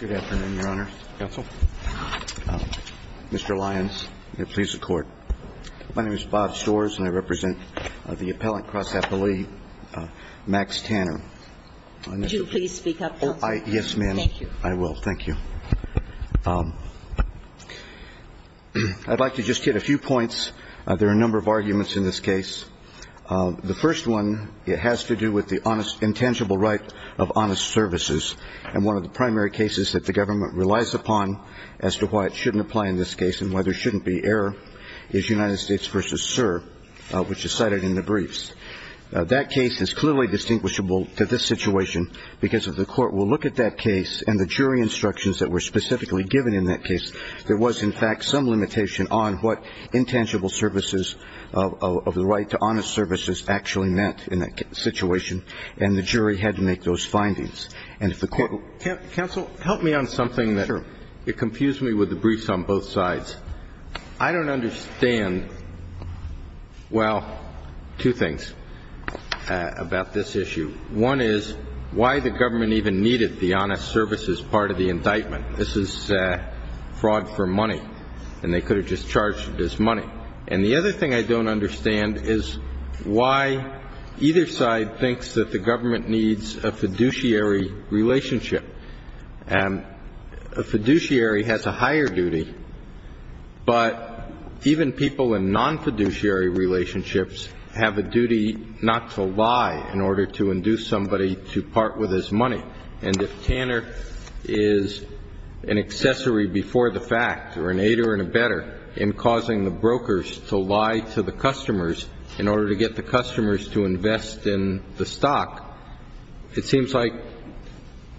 Good afternoon, Your Honor. Counsel. Mr. Lyons, please, the Court. My name is Bob Storrs, and I represent the appellant cross-appellee Max Tanner. Would you please speak up, Counselor? Thank you. Yes, ma'am. I will. Thank you. I'd like to just hit a few points. There are a number of arguments in this case. The first one, it has to do with the intangible right of honest services. And one of the primary cases that the government relies upon as to why it shouldn't apply in this case and why there shouldn't be error is United States v. Sir, which is cited in the briefs. That case is clearly distinguishable to this situation because if the Court will look at that case and the jury instructions that were specifically given in that case, there was, in fact, some limitation on what intangible services of the right to honest services actually meant in that situation, and the jury had to make those findings. Counsel, help me on something that confused me with the briefs on both sides. I don't understand, well, two things about this issue. One is why the government even needed the honest services part of the indictment. This is fraud for money, and they could have just charged it as money. And the other thing I don't understand is why either side thinks that the government needs a fiduciary relationship. A fiduciary has a higher duty, but even people in non-fiduciary relationships have a duty not to lie in order to induce somebody to part with his money. And if Tanner is an accessory before the fact or an aider and abetter in causing the brokers to lie to the customers in order to get the customers to invest in the stock, it seems like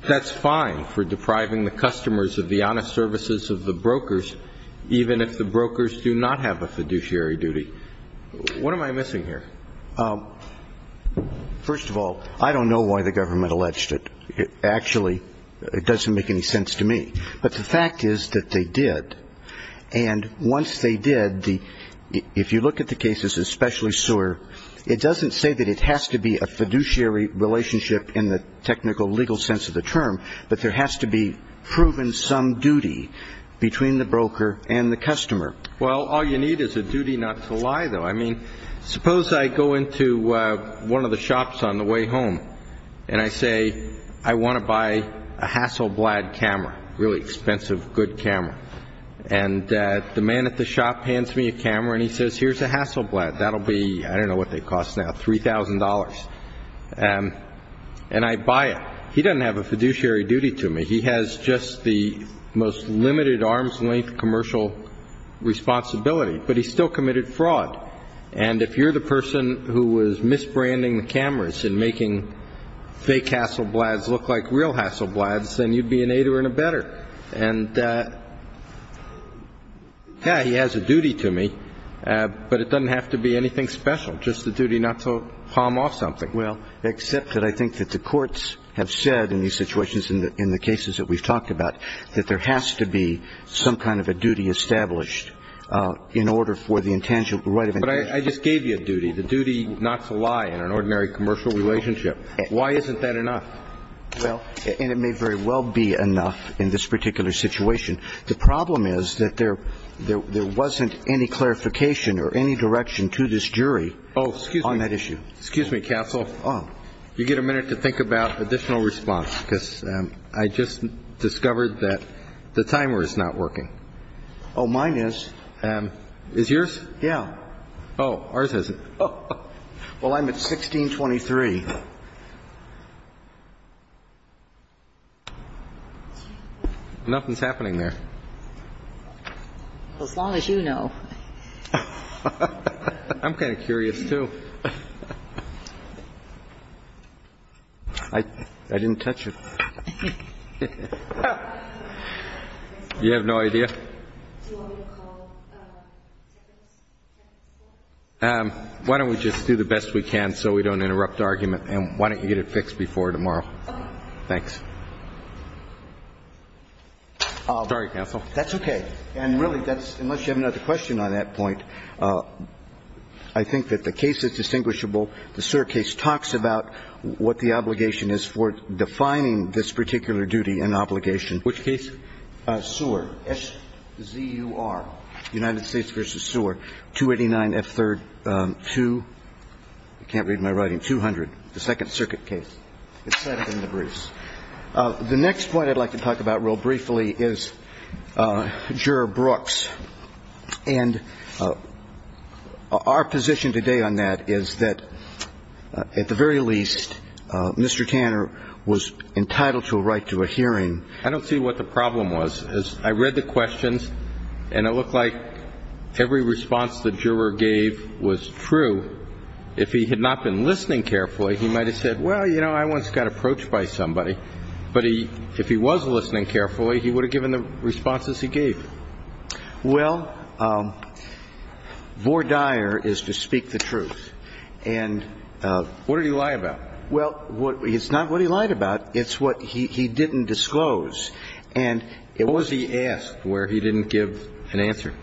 that's fine for depriving the customers of the honest services of the brokers, even if the brokers do not have a fiduciary duty. What am I missing here? First of all, I don't know why the government alleged it. Actually, it doesn't make any sense to me. But the fact is that they did. And once they did, if you look at the cases, especially Sewer, it doesn't say that it has to be a fiduciary relationship in the technical legal sense of the term, but there has to be proven some duty between the broker and the customer. Well, all you need is a duty not to lie, though. I mean, suppose I go into one of the shops on the way home and I say, I want to buy a Hasselblad camera, really expensive, good camera. And the man at the shop hands me a camera and he says, here's a Hasselblad. That'll be, I don't know what they cost now, $3,000. And I buy it. He doesn't have a fiduciary duty to me. He has just the most limited arm's length commercial responsibility. But he still committed fraud. And if you're the person who was misbranding the cameras and making fake Hasselblads look like real Hasselblads, then you'd be an aider and a better. And, yeah, he has a duty to me, but it doesn't have to be anything special, just the duty not to palm off something. Well, except that I think that the courts have said in these situations, in the cases that we've talked about, that there has to be some kind of a duty established in order for the intangible right of interest. But I just gave you a duty. The duty not to lie in an ordinary commercial relationship. Why isn't that enough? Well, and it may very well be enough in this particular situation. The problem is that there wasn't any clarification or any direction to this jury on that issue. Excuse me, counsel. Oh. You get a minute to think about additional response, because I just discovered that the timer is not working. Oh, mine is. Is yours? Yeah. Oh, ours isn't. Well, I'm at 1623. Nothing's happening there. As long as you know. I'm kind of curious, too. I didn't touch it. You have no idea? Why don't we just do the best we can so we don't interrupt the argument? And why don't you get it fixed before tomorrow? Okay. Thanks. Sorry, counsel. That's okay. And really, unless you have another question on that point, I think that the case is distinguishable. The Sewer case talks about what the obligation is for defining this particular duty and obligation. Which case? Sewer. S-Z-U-R. United States v. Sewer. 289F3-2. I can't read my writing. 200, the Second Circuit case. It's set up in the briefs. The next point I'd like to talk about real briefly is Juror Brooks. And our position today on that is that, at the very least, Mr. Tanner was entitled to a right to a hearing. I don't see what the problem was. I read the questions, and it looked like every response the juror gave was true. If he had not been listening carefully, he might have said, well, you know, I once got approached by somebody. But if he was listening carefully, he would have given the responses he gave. Well, vore dire is to speak the truth. And what did he lie about? Well, it's not what he lied about. It's what he didn't disclose. And it was he asked where he didn't give an answer.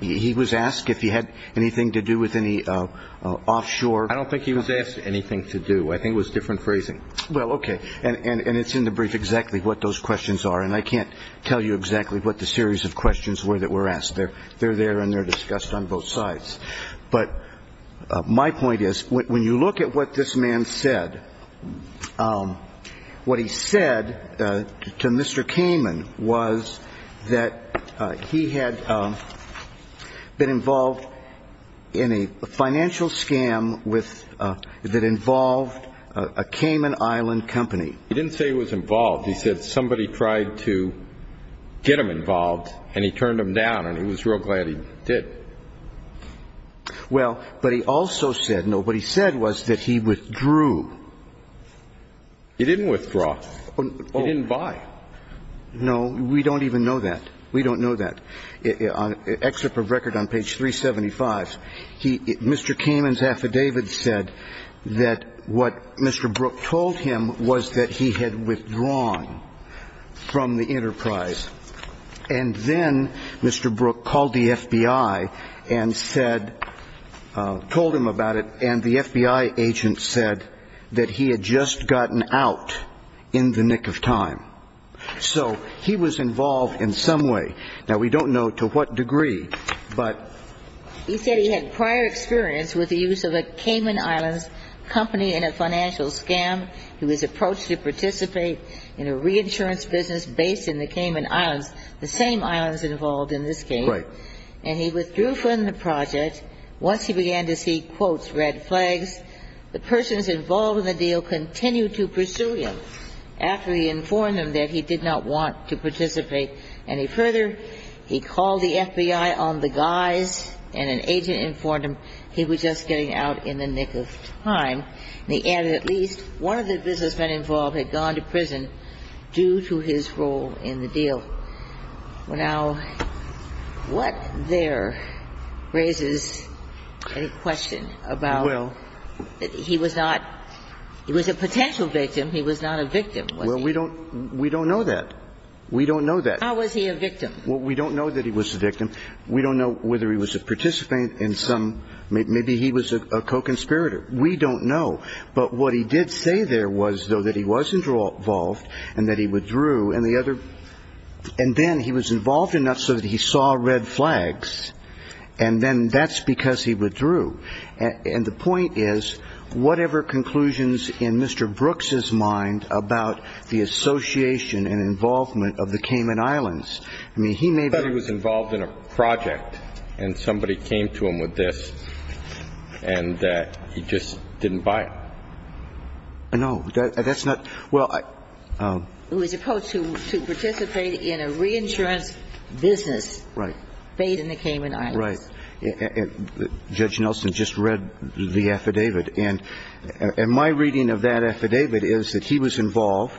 He was asked if he had anything to do with any offshore. I don't think he was asked anything to do. I think it was different phrasing. Well, okay. And it's in the brief exactly what those questions are. And I can't tell you exactly what the series of questions were that were asked. They're there and they're discussed on both sides. But my point is, when you look at what this man said, what he said to Mr. Kamin was that he had been involved in a financial scam that involved a Kamin Island company. He didn't say he was involved. He said somebody tried to get him involved and he turned him down and he was real glad he did. Well, but he also said no. What he said was that he withdrew. He didn't withdraw. He didn't buy. No. We don't even know that. We don't know that. And then Mr. Kamin's affidavit said that what Mr. Brook told him was that he had withdrawn from the enterprise. And then Mr. Brook called the FBI and said, told him about it, and the FBI agent said that he had just gotten out in the nick of time. So he was involved in some way. Now, we don't know to what degree, but he said he had prior experience with the use of a Kamin Island company in a financial scam. He was approached to participate in a reinsurance business based in the Kamin Islands, the same islands involved in this case. Right. And he withdrew from the project. Once he began to see, quote, red flags, the persons involved in the deal continued to pursue him after he informed them that he did not want to participate. And he further, he called the FBI on the guise, and an agent informed him he was just getting out in the nick of time. And he added at least one of the businessmen involved had gone to prison due to his role in the deal. Now, what there raises any question about he was not he was a potential victim. He was not a victim, was he? Well, we don't know that. We don't know that. How was he a victim? Well, we don't know that he was a victim. We don't know whether he was a participant in some – maybe he was a co-conspirator. We don't know. But what he did say there was, though, that he was involved and that he withdrew. And the other – and then he was involved enough so that he saw red flags, and then that's because he withdrew. And the point is, whatever conclusions in Mr. Brooks's mind about the association and involvement of the Cayman Islands, I mean, he may be – I thought he was involved in a project, and somebody came to him with this, and he just didn't buy it. No. That's not – well, I – He was supposed to participate in a reinsurance business. Right. Paid in the Cayman Islands. Right. Judge Nelson just read the affidavit. And my reading of that affidavit is that he was involved.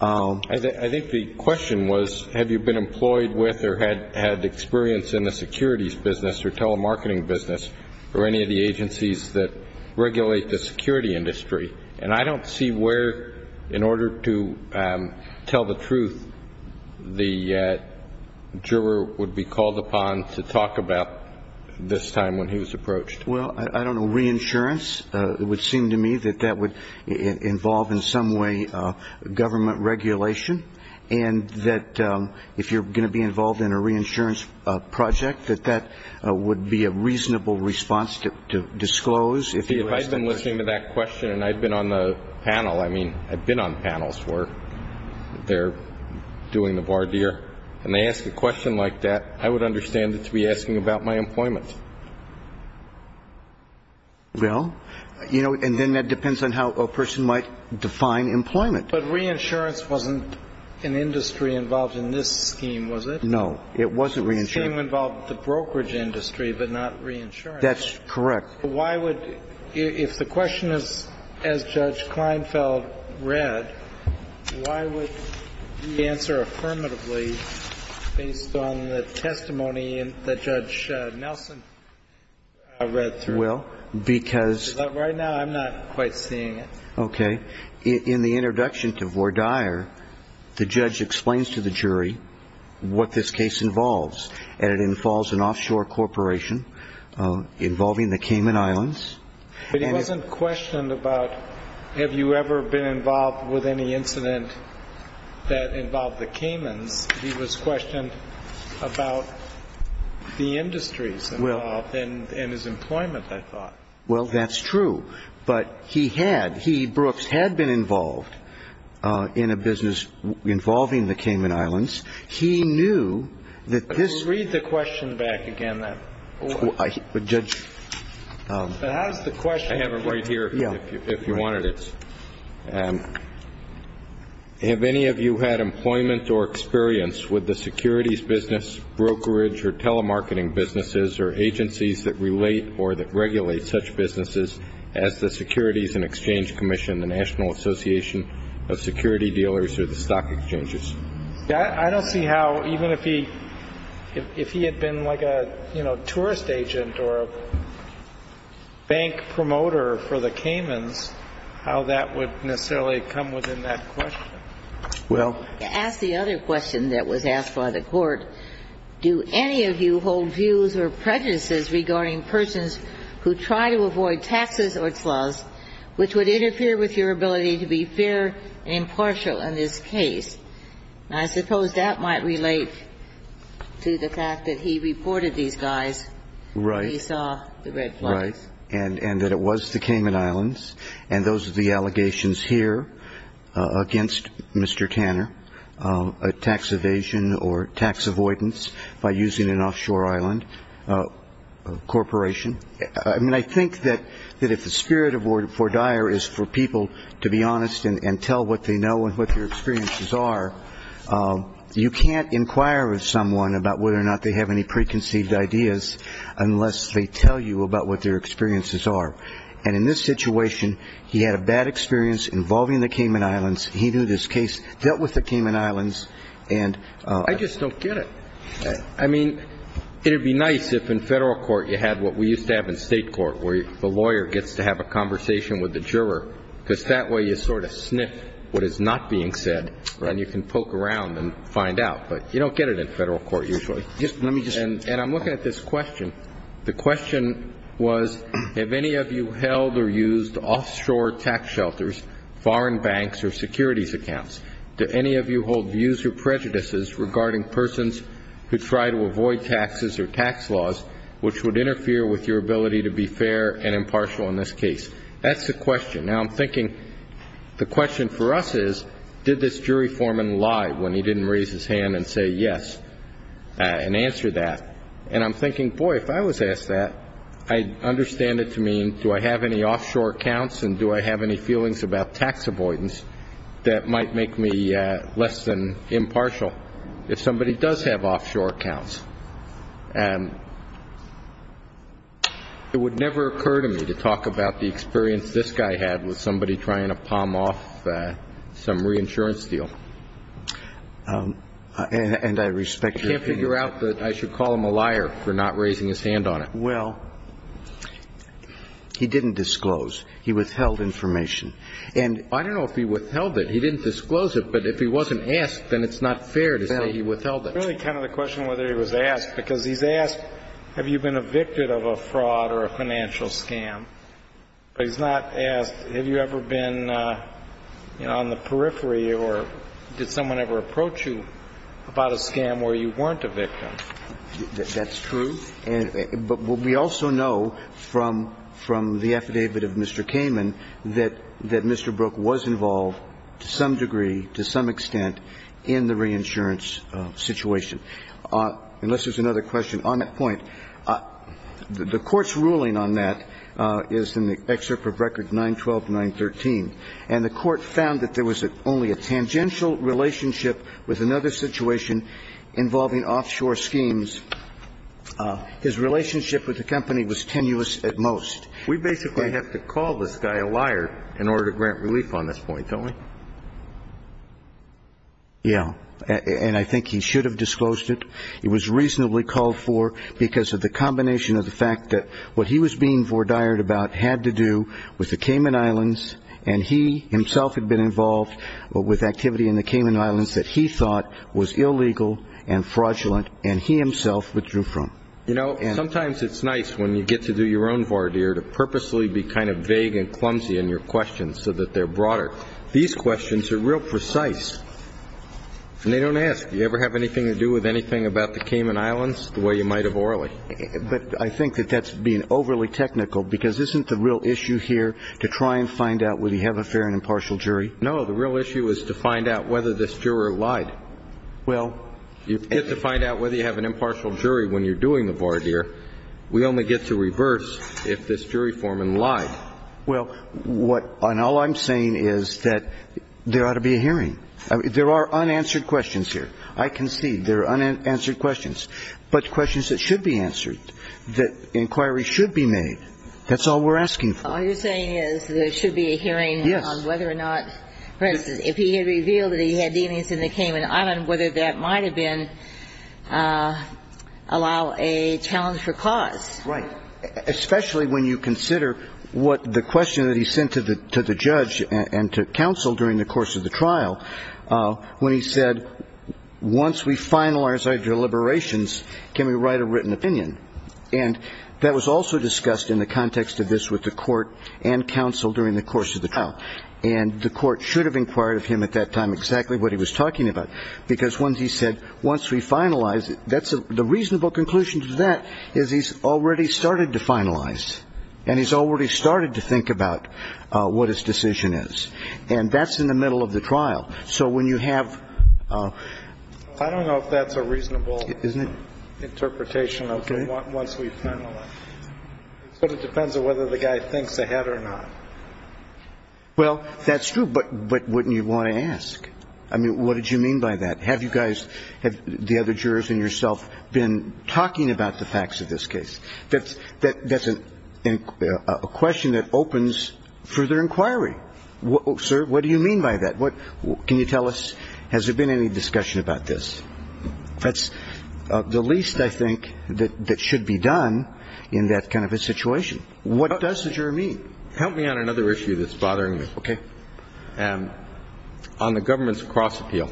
I think the question was, have you been employed with or had experience in the securities business or telemarketing business or any of the agencies that regulate the security industry? And I don't see where, in order to tell the truth, the juror would be called upon to talk about this time when he was approached. Well, I don't know. Reinsurance? It would seem to me that that would involve in some way government regulation and that if you're going to be involved in a reinsurance project, that that would be a reasonable response to disclose. If I've been listening to that question and I've been on the panel, I mean, I've been on panels where they're doing the voir dire, and they ask a question like that, I would understand it to be asking about my employment. Well, you know, and then that depends on how a person might define employment. But reinsurance wasn't an industry involved in this scheme, was it? No. It wasn't reinsurance. The scheme involved the brokerage industry but not reinsurance. That's correct. Why would you, if the question is, as Judge Kleinfeld read, why would you answer affirmatively based on the testimony that Judge Nelson read through? Well, because. Right now I'm not quite seeing it. Okay. In the introduction to voir dire, the judge explains to the jury what this case involves, and it involves an offshore corporation involving the Cayman Islands. But he wasn't questioned about have you ever been involved with any incident that involved the Caymans. He was questioned about the industries involved and his employment, I thought. Well, that's true. But he had, he, Brooks, had been involved in a business involving the Cayman Islands. He knew that this. Read the question back again. But Judge. How does the question. I have it right here if you wanted it. Have any of you had employment or experience with the securities business, brokerage, or telemarketing businesses or agencies that relate or that regulate such businesses as the Securities and Exchange Commission, the National Association of Security Dealers, or the stock exchanges? I don't see how even if he, if he had been like a, you know, tourist agent or a bank promoter for the Caymans, how that would necessarily come within that question. Well. To ask the other question that was asked by the Court, do any of you hold views or prejudices regarding persons who try to avoid taxes or flaws, which would interfere with your ability to be fair and impartial in this case? I suppose that might relate to the fact that he reported these guys. Right. When he saw the red flags. Right. And that it was the Cayman Islands. And those are the allegations here against Mr. Tanner, a tax evasion or tax avoidance by using an offshore island corporation. I mean, I think that if the spirit for Dyer is for people to be honest and tell what they know and what their experiences are, you can't inquire with someone about whether or not they have any preconceived ideas unless they tell you about what their experiences are. And in this situation, he had a bad experience involving the Cayman Islands. He knew this case, dealt with the Cayman Islands. I just don't get it. I mean, it would be nice if in Federal Court you had what we used to have in State Court where the lawyer gets to have a conversation with the juror, because that way you sort of sniff what is not being said and you can poke around and find out. But you don't get it in Federal Court usually. And I'm looking at this question. The question was, have any of you held or used offshore tax shelters, foreign banks or securities accounts? Do any of you hold views or prejudices regarding persons who try to avoid taxes or tax laws, which would interfere with your ability to be fair and impartial in this case? That's the question. Now, I'm thinking the question for us is, did this jury foreman lie when he didn't raise his hand and say yes and answer that? And I'm thinking, boy, if I was asked that, I'd understand it to mean, do I have any offshore accounts and do I have any feelings about tax avoidance that might make me less than impartial if somebody does have offshore accounts? And it would never occur to me to talk about the experience this guy had with somebody trying to palm off some reinsurance deal. And I respect your opinion. I can't figure out that I should call him a liar for not raising his hand on it. Well, he didn't disclose. He withheld information. And I don't know if he withheld it. He didn't disclose it. But if he wasn't asked, then it's not fair to say he withheld it. It's really kind of the question whether he was asked, because he's asked, have you been evicted of a fraud or a financial scam? But he's not asked, have you ever been on the periphery or did someone ever approach you about a scam where you weren't a victim? That's true. But we also know from the affidavit of Mr. Kamen that Mr. Brook was involved to some degree, to some extent, in the reinsurance situation. Unless there's another question on that point. The Court's ruling on that is in the excerpt of Record 912, 913. And the Court found that there was only a tangential relationship with another involving offshore schemes. His relationship with the company was tenuous at most. We basically have to call this guy a liar in order to grant relief on this point, don't we? Yeah. And I think he should have disclosed it. It was reasonably called for because of the combination of the fact that what he was being had to do with the Cayman Islands. And he himself had been involved with activity in the Cayman Islands that he thought was illegal and fraudulent and he himself withdrew from. You know, sometimes it's nice when you get to do your own voir dire to purposely be kind of vague and clumsy in your questions so that they're broader. These questions are real precise. And they don't ask, do you ever have anything to do with anything about the Cayman Islands the way you might have orally? But I think that that's being overly technical because isn't the real issue here to try and find out whether you have a fair and impartial jury? No. The real issue is to find out whether this juror lied. Well. You get to find out whether you have an impartial jury when you're doing the voir dire. We only get to reverse if this jury foreman lied. Well, and all I'm saying is that there ought to be a hearing. There are unanswered questions here. I concede there are unanswered questions, but questions that should be answered, that inquiries should be made. That's all we're asking for. All you're saying is there should be a hearing on whether or not, for instance, if he had revealed that he had deemings in the Cayman Islands, whether that might have been allow a challenge for cause. Right. Especially when you consider what the question that he sent to the judge and to counsel during the course of the trial when he said, once we finalize our deliberations, can we write a written opinion? And that was also discussed in the context of this with the court and counsel during the course of the trial. And the court should have inquired of him at that time exactly what he was talking about, because once he said, once we finalize it, that's a reasonable conclusion to that is he's already started to finalize, and he's already started to think about what his decision is. And that's in the middle of the trial. So when you have. I don't know if that's a reasonable. Isn't it? It's a reasonable interpretation. Okay. Once we finalize. But it depends on whether the guy thinks ahead or not. Well, that's true. But wouldn't you want to ask? I mean, what did you mean by that? Have you guys, the other jurors and yourself, been talking about the facts of this case? That's a question that opens further inquiry. Sir, what do you mean by that? Can you tell us, has there been any discussion about this? That's the least, I think, that should be done in that kind of a situation. What does the juror mean? Help me on another issue that's bothering me. Okay. On the government's cross-appeal.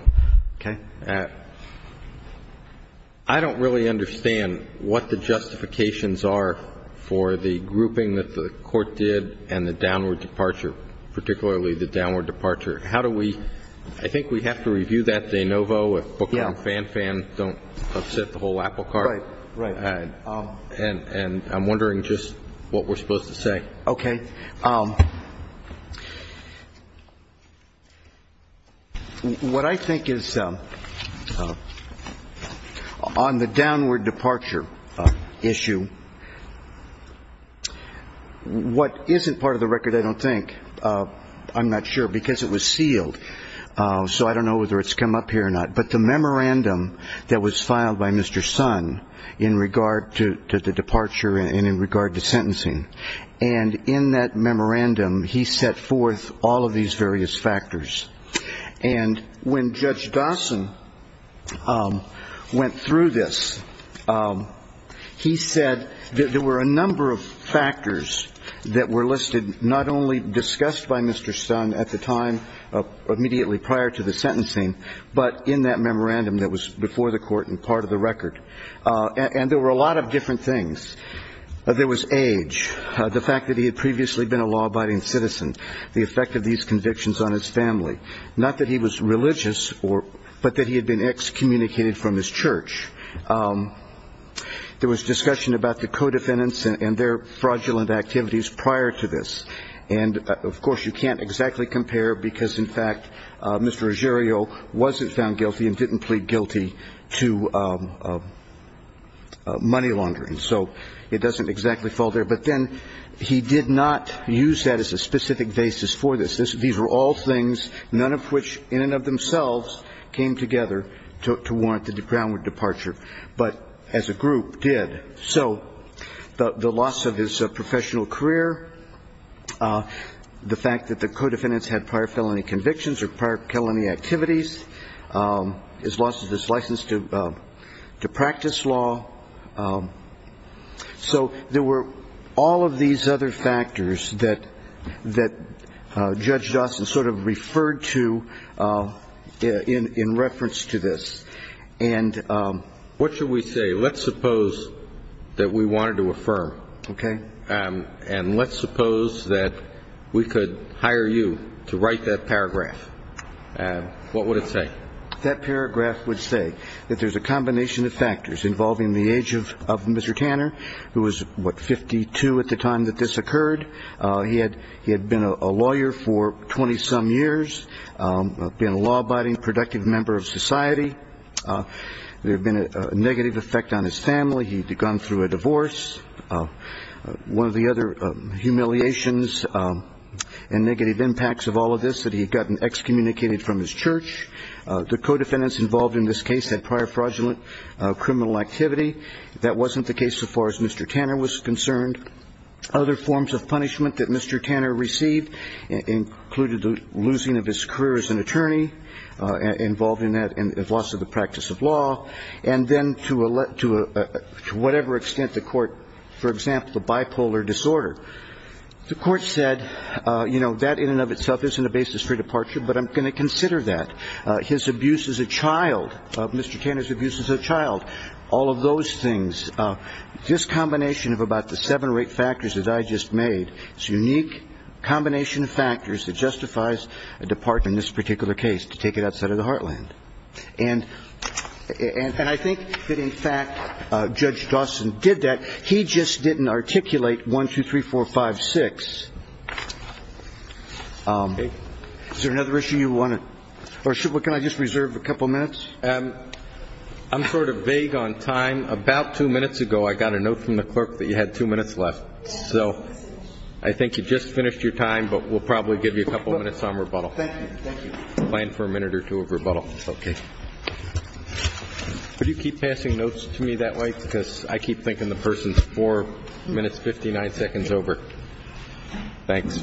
Okay. I don't really understand what the justifications are for the grouping that the court did and the downward departure, particularly the downward departure. How do we – I think we have to review that, De Novo, if Booker and Fan Fan don't upset the whole apple cart. Right. Right. And I'm wondering just what we're supposed to say. Okay. What I think is on the downward departure issue, what isn't part of the record, I don't think, I'm not sure, because it was sealed, so I don't know whether it's come up here or not, but the memorandum that was filed by Mr. Sun in regard to the departure and in regard to sentencing, and in that memorandum he set forth all of these various factors. And when Judge Dawson went through this, he said that there were a number of factors that were listed, not only discussed by Mr. Sun at the time immediately prior to the sentencing, but in that memorandum that was before the court and part of the record. And there were a lot of different things. There was age, the fact that he had previously been a law-abiding citizen, the effect of these convictions on his family, not that he was religious, but that he had been excommunicated from his church. There was discussion about the co-defendants and their fraudulent activities prior to this. And, of course, you can't exactly compare because, in fact, Mr. Agerio wasn't found guilty and didn't plead guilty to money laundering. So it doesn't exactly fall there. But then he did not use that as a specific basis for this. These were all things, none of which in and of themselves came together to warrant the groundward departure, but as a group did. So the loss of his professional career, the fact that the co-defendants had prior felony convictions or prior felony activities, his loss of his license to practice law. So there were all of these other factors that Judge Dawson sort of referred to in reference to this. And what should we say? Let's suppose that we wanted to affirm. Okay. And let's suppose that we could hire you to write that paragraph. What would it say? That paragraph would say that there's a combination of factors involving the age of Mr. Tanner, who was, what, 52 at the time that this occurred. He had been a lawyer for 20-some years, been a law-abiding, productive member of society. There had been a negative effect on his family. He had gone through a divorce. One of the other humiliations and negative impacts of all of this, that he had gotten excommunicated from his church. The co-defendants involved in this case had prior fraudulent criminal activity. That wasn't the case so far as Mr. Tanner was concerned. Other forms of punishment that Mr. Tanner received included the losing of his career as an attorney, involved in that loss of the practice of law, and then to whatever extent the court, for example, the bipolar disorder. The court said, you know, that in and of itself isn't a basis for departure, but I'm going to consider that. His abuse as a child, Mr. Tanner's abuse as a child, all of those things, this combination of about the seven or eight factors that I just made, this unique combination of factors that justifies a departure in this particular case, to take it outside of the heartland. And I think that, in fact, Judge Dawson did that. He just didn't articulate 1, 2, 3, 4, 5, 6. Is there another issue you want to or can I just reserve a couple minutes? I'm sort of vague on time. About two minutes ago I got a note from the clerk that you had two minutes left. So I think you just finished your time, but we'll probably give you a couple minutes on rebuttal. Thank you. Thank you. I plan for a minute or two of rebuttal. Okay. Could you keep passing notes to me that way? Because I keep thinking the person's four minutes, 59 seconds over. Thanks.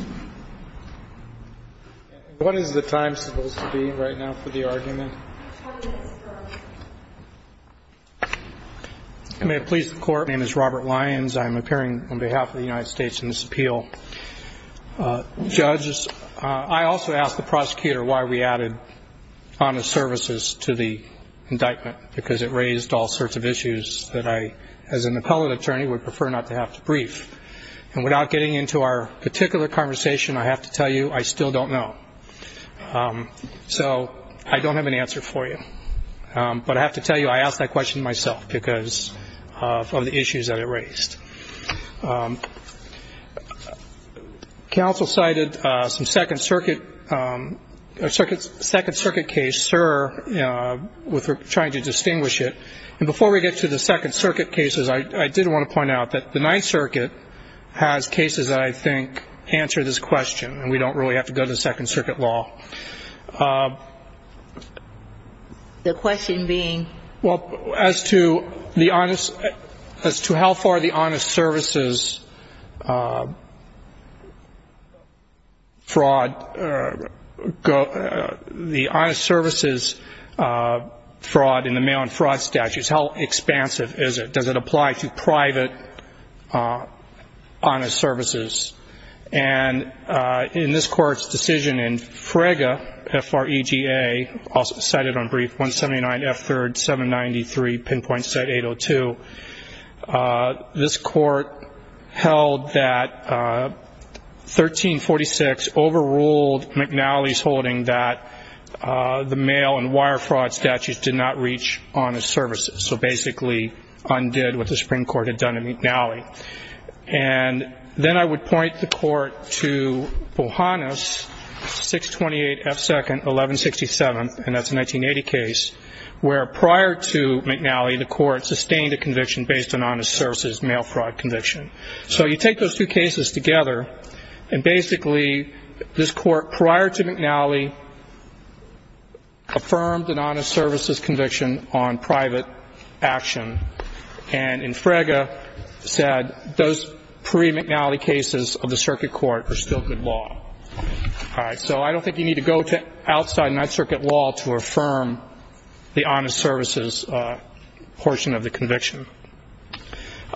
What is the time supposed to be right now for the argument? May it please the Court. My name is Robert Lyons. I'm appearing on behalf of the United States in this appeal. Judges, I also asked the prosecutor why we added honest services to the indictment, because it raised all sorts of issues that I, as an appellate attorney, would prefer not to have to brief. And without getting into our particular conversation, I have to tell you I still don't know. So I don't have an answer for you. But I have to tell you I asked that question myself because of the issues that it raised. Counsel cited some Second Circuit case, SIR, with trying to distinguish it. And before we get to the Second Circuit cases, I did want to point out that the Ninth Circuit has cases that I think answer this question, and we don't really have to go to the Second Circuit law. The question being? Well, as to how far the honest services fraud in the mail-in fraud statute, how expansive is it? Does it apply to private honest services? And in this Court's decision in FREGA, F-R-E-G-A, cited on brief, 179 F-3rd, 793, pinpoint set 802, this Court held that 1346 overruled McNally's holding that the mail-in wire fraud statute did not reach honest services, so basically undid what the Supreme Court had done to McNally. And then I would point the Court to Bohannes, 628 F-2nd, 1167, and that's a 1980 case, where prior to McNally, the Court sustained a conviction based on honest services mail fraud conviction. So you take those two cases together, and basically this Court, prior to McNally, affirmed an honest services conviction on private action. And in FREGA, said those pre-McNally cases of the Circuit Court are still good law. All right. So I don't think you need to go to outside in that Circuit law to affirm the honest services portion of the conviction.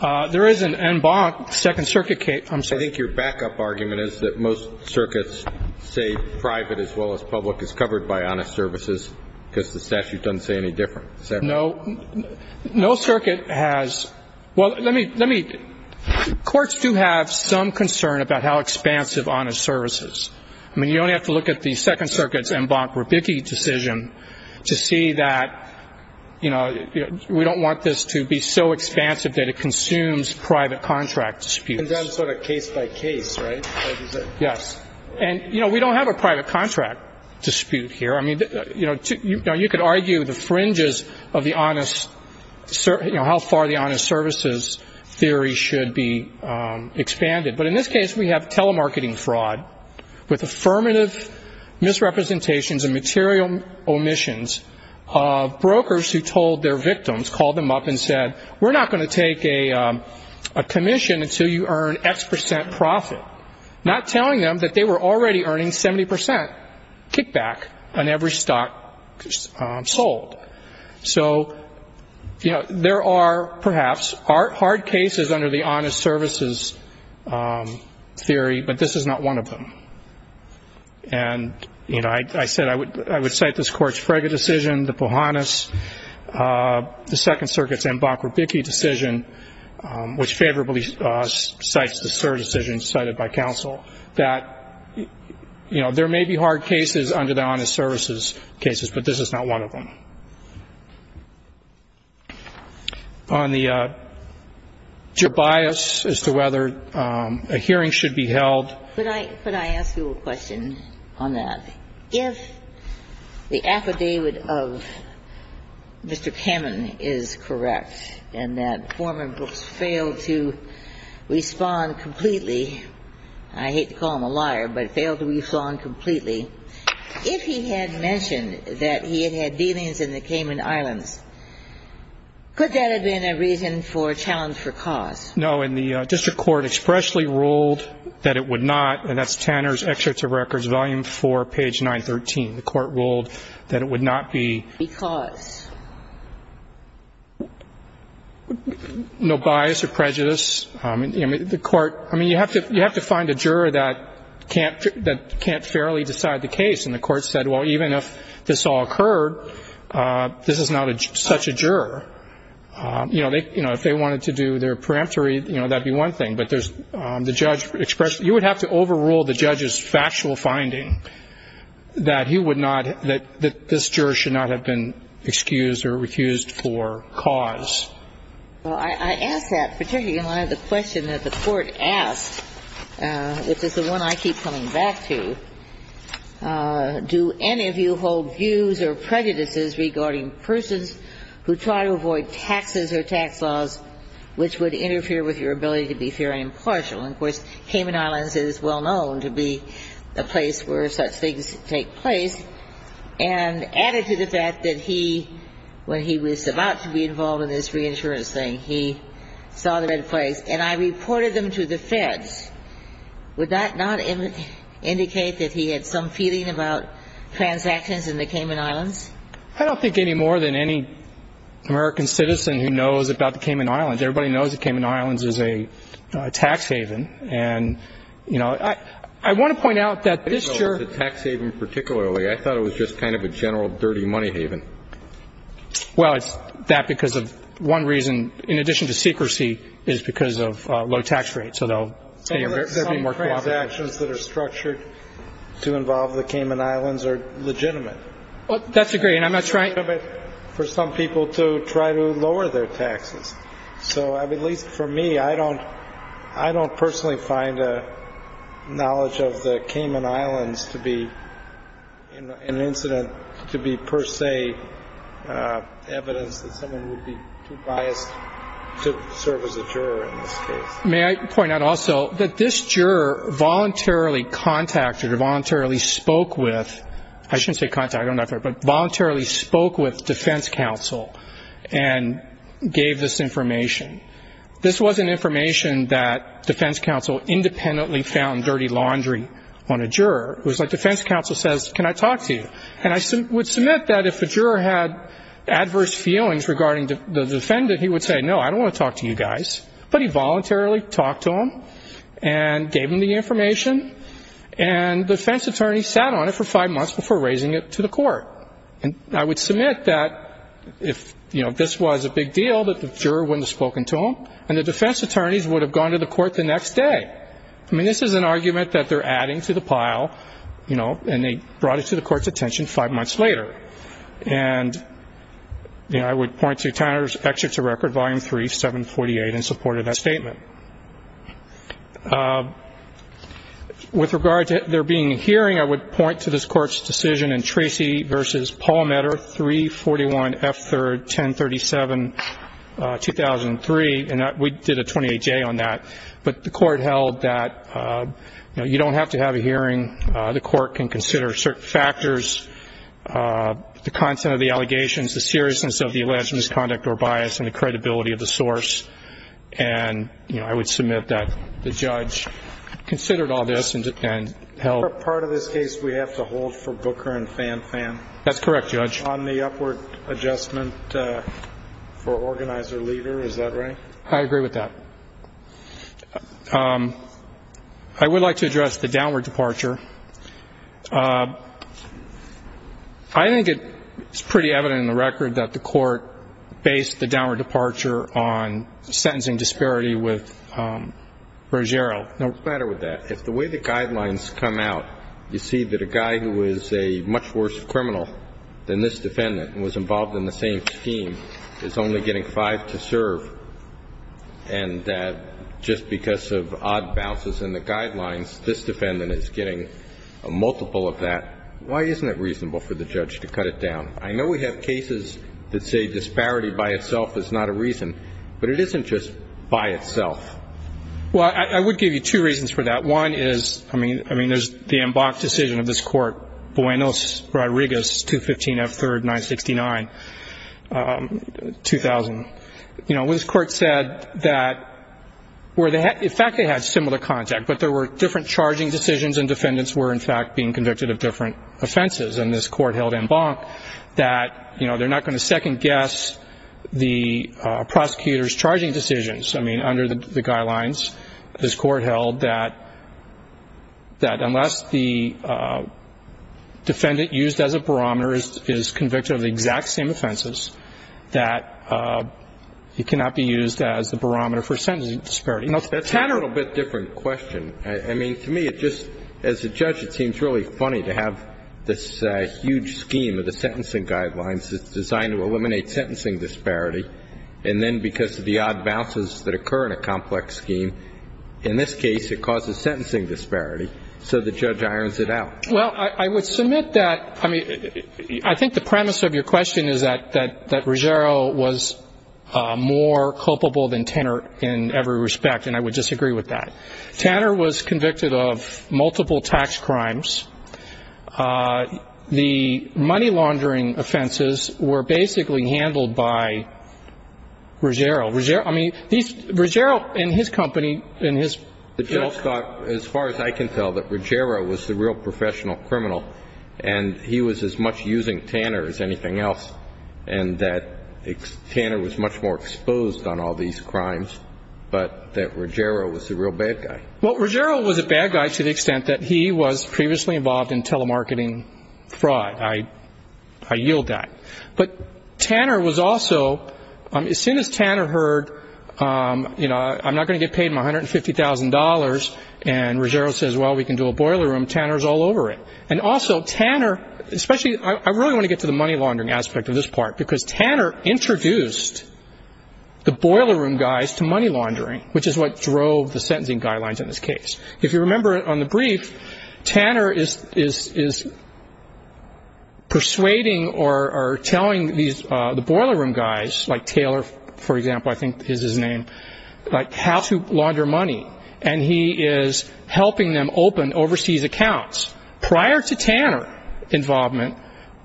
There is an en banc Second Circuit case. I'm sorry. I think your backup argument is that most circuits say private as well as public is covered by honest services because the statute doesn't say any different. No. No circuit has – well, let me – courts do have some concern about how expansive honest services. I mean, you only have to look at the Second Circuit's en banc rebiki decision to see that, you know, we don't want this to be so expansive that it consumes private contract disputes. And then sort of case by case, right? Yes. And, you know, we don't have a private contract dispute here. I mean, you know, you could argue the fringes of the honest – you know, how far the honest services theory should be expanded. But in this case, we have telemarketing fraud with affirmative misrepresentations and material omissions of brokers who told their victims, called them up and said, we're not going to take a commission until you earn X percent profit, not telling them that they were already earning 70 percent kickback on every stock sold. So, you know, there are perhaps hard cases under the honest services theory, but this is not one of them. And, you know, I said I would cite this Court's Frege decision, the Pohannes, the Second Circuit's banc rebiki decision, which favorably cites the Sur decision cited by counsel, that, you know, there may be hard cases under the honest services cases, but this is not one of them. On the bias as to whether a hearing should be held. Could I ask you a question on that? Yes. If the affidavit of Mr. Kamen is correct, and that Foreman Brooks failed to respond completely, I hate to call him a liar, but failed to respond completely, if he had mentioned that he had had dealings in the Cayman Islands, could that have been a reason for a challenge for cause? No, and the district court expressly ruled that it would not, and that's Tanner's Excerpt of Records, Volume 4, page 913. The court ruled that it would not be. Because. No bias or prejudice. I mean, you have to find a juror that can't fairly decide the case. And the court said, well, even if this all occurred, this is not such a juror. You know, if they wanted to do their preemptory, you know, that would be one thing. But the judge expressed, you would have to overrule the judge's factual finding that he would not, that this juror should not have been excused or recused for cause. Well, I ask that, particularly in light of the question that the court asked, which is the one I keep coming back to. Do any of you hold views or prejudices regarding persons who try to avoid taxes or tax laws which would interfere with your ability to be fair and impartial? And, of course, Cayman Islands is well known to be a place where such things take place. And added to the fact that he, when he was about to be involved in this reinsurance thing, he saw the red flags, and I reported them to the feds. Would that not indicate that he had some feeling about transactions in the Cayman Islands? I don't think any more than any American citizen who knows about the Cayman Islands. Everybody knows the Cayman Islands is a tax haven. And, you know, I want to point out that this juror ---- I didn't know it was a tax haven particularly. I thought it was just kind of a general dirty money haven. Well, it's that because of one reason, in addition to secrecy, is because of low tax rates. So there will be more cooperation. Some transactions that are structured to involve the Cayman Islands are legitimate. Well, that's a great. And I'm not trying to ---- For some people to try to lower their taxes. So at least for me, I don't personally find knowledge of the Cayman Islands to be an incident to be per se evidence that someone would be too biased to serve as a juror in this case. May I point out also that this juror voluntarily contacted or voluntarily spoke with ---- I shouldn't say contacted. I don't know if I ---- But voluntarily spoke with defense counsel and gave this information. This wasn't information that defense counsel independently found dirty laundry on a juror. It was like defense counsel says, can I talk to you? And I would submit that if a juror had adverse feelings regarding the defendant, he would say, no, I don't want to talk to you guys. But he voluntarily talked to him and gave him the information. And defense attorneys sat on it for five months before raising it to the court. And I would submit that if this was a big deal, that the juror wouldn't have spoken to him, and the defense attorneys would have gone to the court the next day. I mean, this is an argument that they're adding to the pile, you know, and they brought it to the court's attention five months later. And I would point to Tanner's Excerpt to Record, Volume 3, 748, in support of that statement. With regard to there being a hearing, I would point to this Court's decision in Tracy v. Palmetter, 341 F. 3rd, 1037, 2003. And we did a 28-J on that. But the Court held that, you know, you don't have to have a hearing. The Court can consider certain factors, the content of the allegations, the seriousness of the alleged misconduct or bias, and the credibility of the source. And, you know, I would submit that the judge considered all this and held. Is there a part of this case we have to hold for Booker and Fan Fan? That's correct, Judge. On the upward adjustment for organizer-leader, is that right? I agree with that. I would like to address the downward departure. I think it's pretty evident in the record that the Court based the downward departure on sentencing disparity with Ruggiero. What's the matter with that? If the way the guidelines come out, you see that a guy who is a much worse criminal than this defendant and was involved in the same scheme is only getting five to serve, and that just because of odd bounces in the guidelines, this defendant is getting a multiple of that, why isn't it reasonable for the judge to cut it down? I know we have cases that say disparity by itself is not a reason, but it isn't just by itself. Well, I would give you two reasons for that. One is, I mean, there's the en banc decision of this Court, Buenos Rodrigues 215 F. 3rd, 969, 2000. You know, this Court said that where they had, in fact, they had similar contact, but there were different charging decisions and defendants were, in fact, being convicted of different offenses. And this Court held en banc that, you know, they're not going to second-guess the prosecutor's charging decisions. I mean, under the guidelines, this Court held that unless the defendant used as a barometer is convicted of the exact same offenses, that it cannot be used as the barometer for sentencing disparity. That's a little bit different question. I mean, to me, it just, as a judge, it seems really funny to have this huge scheme of the sentencing guidelines that's designed to eliminate sentencing disparity, and then because of the odd bounces that occur in a complex scheme, in this case it causes sentencing disparity, so the judge irons it out. Well, I would submit that, I mean, I think the premise of your question is that Ruggiero was more culpable than Tanner in every respect, and I would disagree with that. Tanner was convicted of multiple tax crimes. The money laundering offenses were basically handled by Ruggiero. Ruggiero, I mean, Ruggiero and his company and his... The judge thought, as far as I can tell, that Ruggiero was the real professional criminal, and he was as much using Tanner as anything else, and that Tanner was much more exposed on all these crimes, but that Ruggiero was the real bad guy. Well, Ruggiero was a bad guy to the extent that he was previously involved in telemarketing fraud. I yield that. But Tanner was also, as soon as Tanner heard, you know, I'm not going to get paid my $150,000, and Ruggiero says, well, we can do a boiler room, Tanner's all over it. And also Tanner, especially, I really want to get to the money laundering aspect of this part, because Tanner introduced the boiler room guys to money laundering, which is what drove the sentencing guidelines in this case. If you remember on the brief, Tanner is persuading or telling the boiler room guys, like Taylor, for example, I think is his name, like how to launder money, and he is helping them open overseas accounts. Prior to Tanner's involvement,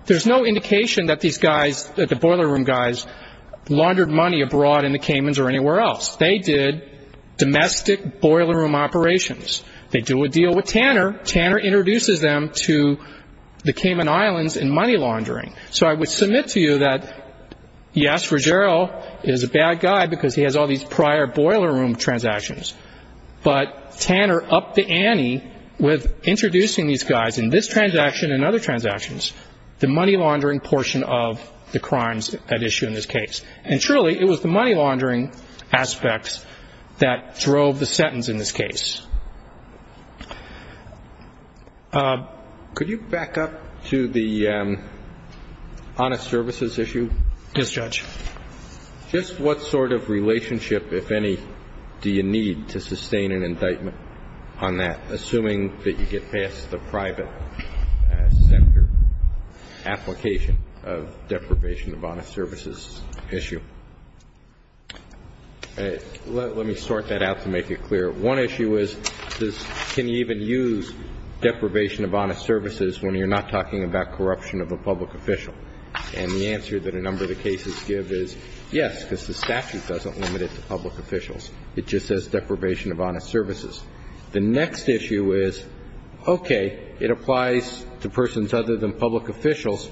there's no indication that these guys, the boiler room guys, laundered money abroad in the Caymans or anywhere else. They did domestic boiler room operations. They do a deal with Tanner. Tanner introduces them to the Cayman Islands in money laundering. So I would submit to you that, yes, Ruggiero is a bad guy because he has all these prior boiler room transactions, but Tanner upped the ante with introducing these guys in this transaction and other transactions, the money laundering portion of the crimes at issue in this case. And truly, it was the money laundering aspects that drove the sentence in this case. Could you back up to the honest services issue? Yes, Judge. Just what sort of relationship, if any, do you need to sustain an indictment on that, assuming that you get past the private center application of deprivation of honest services issue? Let me sort that out to make it clear. One issue is can you even use deprivation of honest services when you're not talking about corruption of a public official? And the answer that a number of the cases give is yes, because the statute doesn't limit it to public officials. It just says deprivation of honest services. The next issue is, okay, it applies to persons other than public officials.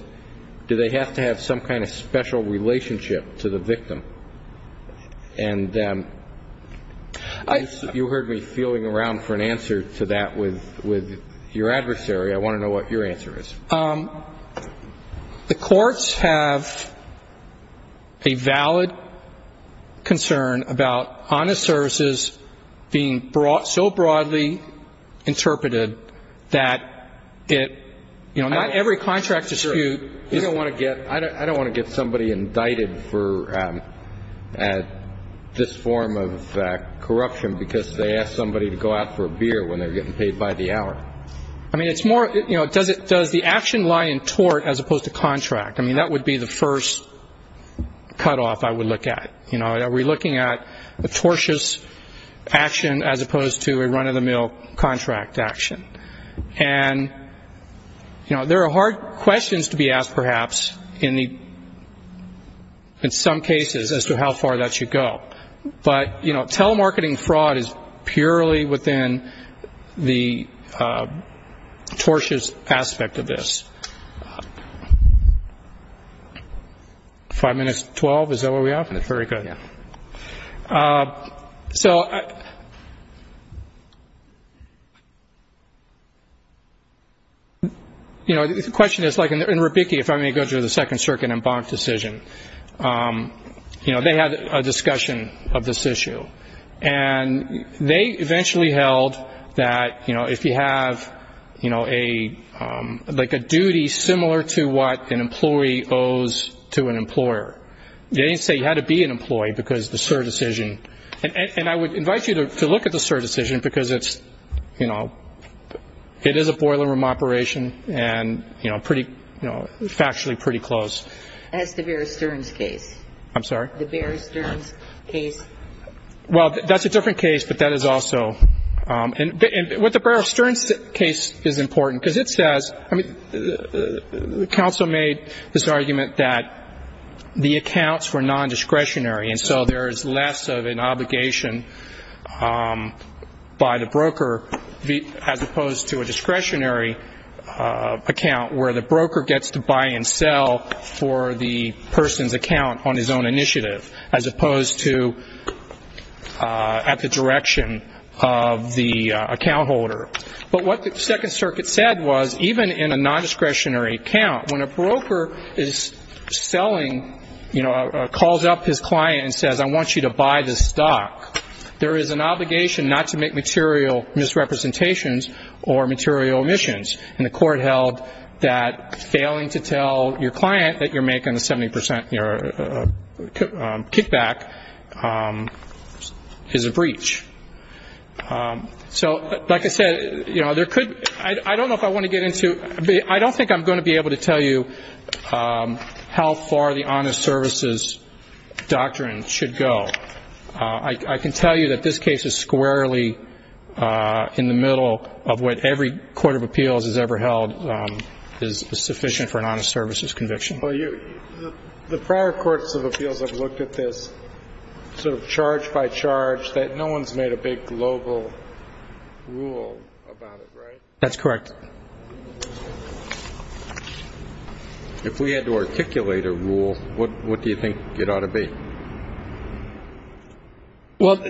Do they have to have some kind of special relationship to the victim? And you heard me feeling around for an answer to that with your adversary. I want to know what your answer is. The courts have a valid concern about honest services being so broadly interpreted that it, you know, not every contract dispute. You don't want to get ‑‑ I don't want to get somebody indicted for this form of corruption because they asked somebody to go out for a beer when they're getting paid by the hour. I mean, it's more, you know, does the action lie in tort as opposed to contract? I mean, that would be the first cutoff I would look at. You know, are we looking at a tortious action as opposed to a run‑of‑the‑mill contract action? And, you know, there are hard questions to be asked perhaps in some cases as to how far that should go. But, you know, telemarketing fraud is purely within the tortious aspect of this. Five minutes, 12, is that where we are? Very good. So, you know, the question is, like, in Rubicki, if I may go to the Second Circuit and Bonk decision, you know, they had a discussion of this issue. And they eventually held that, you know, if you have, you know, like a duty similar to what an employee owes to an employer, they didn't say you had to be an employee because the sur decision. And I would invite you to look at the sur decision because it's, you know, it is a boiler room operation and, you know, pretty, you know, factually pretty close. That's the Bear Stearns case. I'm sorry? The Bear Stearns case. Well, that's a different case, but that is also ‑‑ and what the Bear Stearns case is important, because it says, I mean, the counsel made this argument that the accounts were nondiscretionary and so there is less of an obligation by the broker as opposed to a discretionary account where the broker gets to buy and sell for the person's account on his own initiative as opposed to at the direction of the account holder. But what the Second Circuit said was even in a nondiscretionary account, when a broker is selling, you know, calls up his client and says, I want you to buy this stock, there is an obligation not to make material misrepresentations or material omissions. And the court held that failing to tell your client that you're making a 70% kickback is a breach. So, like I said, you know, there could ‑‑ I don't know if I want to get into ‑‑ I don't think I'm going to be able to tell you how far the honest services doctrine should go. I can tell you that this case is squarely in the middle of what every court of appeals has ever held is sufficient for an honest services conviction. Well, the prior courts of appeals have looked at this sort of charge by charge, that no one has made a big global rule about it, right? That's correct. If we had to articulate a rule, what do you think it ought to be? Well,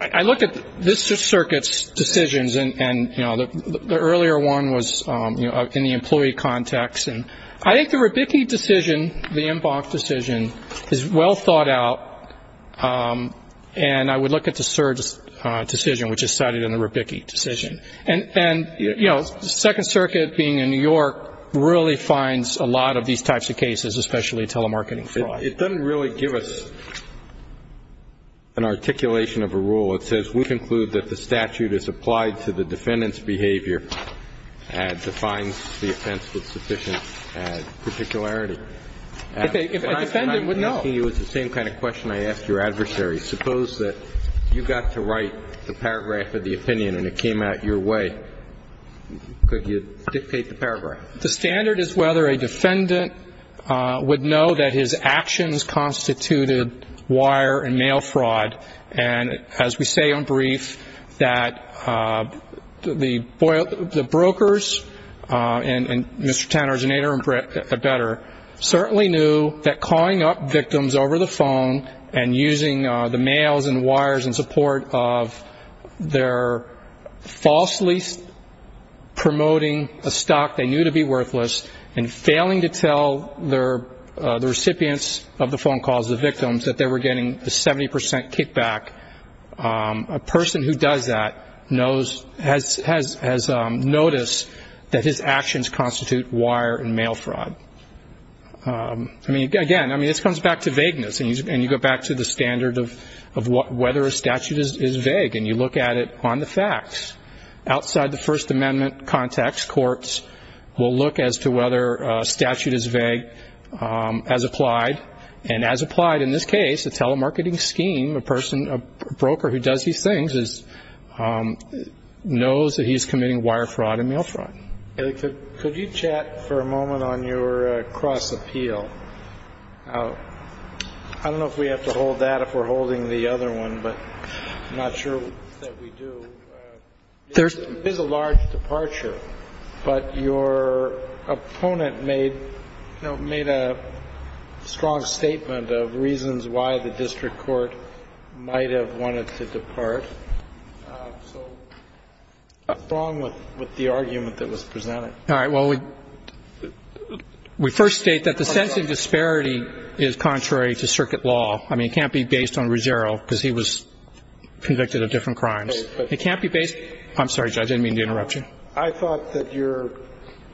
I look at this circuit's decisions, and, you know, the earlier one was in the employee context. And I think the Rabicki decision, the Inbox decision, is well thought out, and I would look at the Surge decision, which is cited in the Rabicki decision. And, you know, the Second Circuit, being in New York, really finds a lot of these types of cases, especially telemarketing fraud. It doesn't really give us an articulation of a rule. It says we conclude that the statute is applied to the defendant's behavior and defines the offense with sufficient particularity. If a defendant would know. I'm asking you the same kind of question I asked your adversary. Suppose that you got to write the paragraph of the opinion and it came out your way. Could you dictate the paragraph? The standard is whether a defendant would know that his actions constituted wire and mail fraud. And as we say on brief, that the brokers, and Mr. Tanner's an eight-armed better, certainly knew that calling up victims over the phone and using the mails and wires in support of their falsely promoting a stock they knew to be worthless and failing to tell the recipients of the phone calls, the victims, that they were getting a 70 percent kickback, a person who does that has noticed that his actions constitute wire and mail fraud. I mean, again, this comes back to vagueness, and you go back to the standard of whether a statute is vague, and you look at it on the facts. Outside the First Amendment context, courts will look as to whether a statute is vague as applied, and as applied in this case, a telemarketing scheme, a person, a broker who does these things, knows that he's committing wire fraud and mail fraud. Could you chat for a moment on your cross appeal? I don't know if we have to hold that if we're holding the other one, but I'm not sure that we do. It is a large departure, but your opponent made a strong statement of reasons why the district court might have wanted to depart. So what's wrong with the argument that was presented? All right. Well, we first state that the sense of disparity is contrary to circuit law. I mean, it can't be based on Ruggiero because he was convicted of different crimes. I'm sorry, Judge, I didn't mean to interrupt you. I thought that your,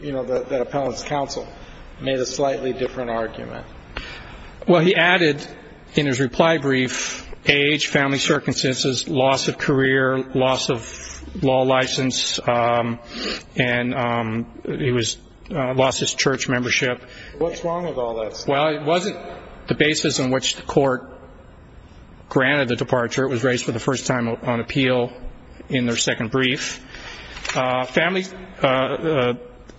you know, that appellant's counsel made a slightly different argument. Well, he added in his reply brief age, family circumstances, loss of career, loss of law license, and he lost his church membership. What's wrong with all that stuff? Well, it wasn't the basis on which the court granted the departure. It was raised for the first time on appeal in their second brief. Family,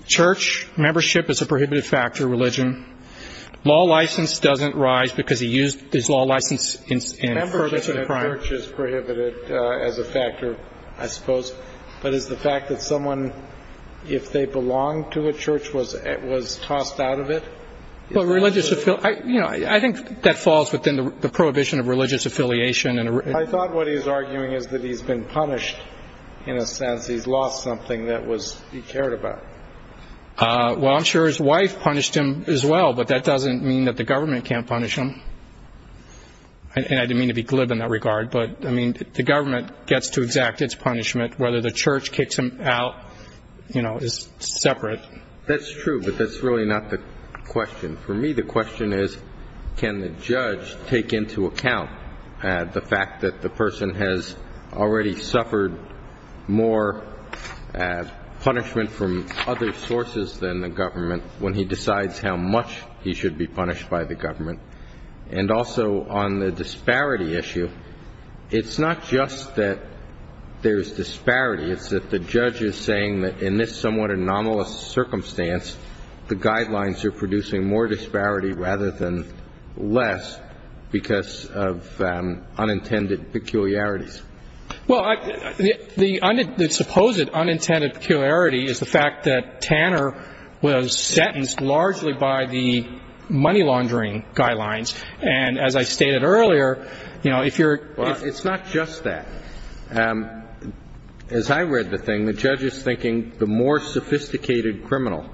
church membership is a prohibited factor, religion. Law license doesn't rise because he used his law license in furtherance of the crime. Membership in a church is prohibited as a factor, I suppose. But is the fact that someone, if they belong to a church, was tossed out of it? Well, religious affiliation, you know, I think that falls within the prohibition of religious affiliation. I thought what he was arguing is that he's been punished in a sense. He's lost something that he cared about. Well, I'm sure his wife punished him as well, but that doesn't mean that the government can't punish him. And I didn't mean to be glib in that regard, but, I mean, the government gets to exact its punishment. Whether the church kicks him out, you know, is separate. That's true, but that's really not the question. For me the question is can the judge take into account the fact that the person has already suffered more punishment from other sources than the government when he decides how much he should be punished by the government? And also on the disparity issue, it's not just that there's disparity. It's that the judge is saying that in this somewhat anomalous circumstance, the guidelines are producing more disparity rather than less because of unintended peculiarities. Well, the supposed unintended peculiarity is the fact that Tanner was sentenced largely by the money laundering guidelines. And as I stated earlier, you know, if you're ---- It's not just that. As I read the thing, the judge is thinking the more sophisticated criminal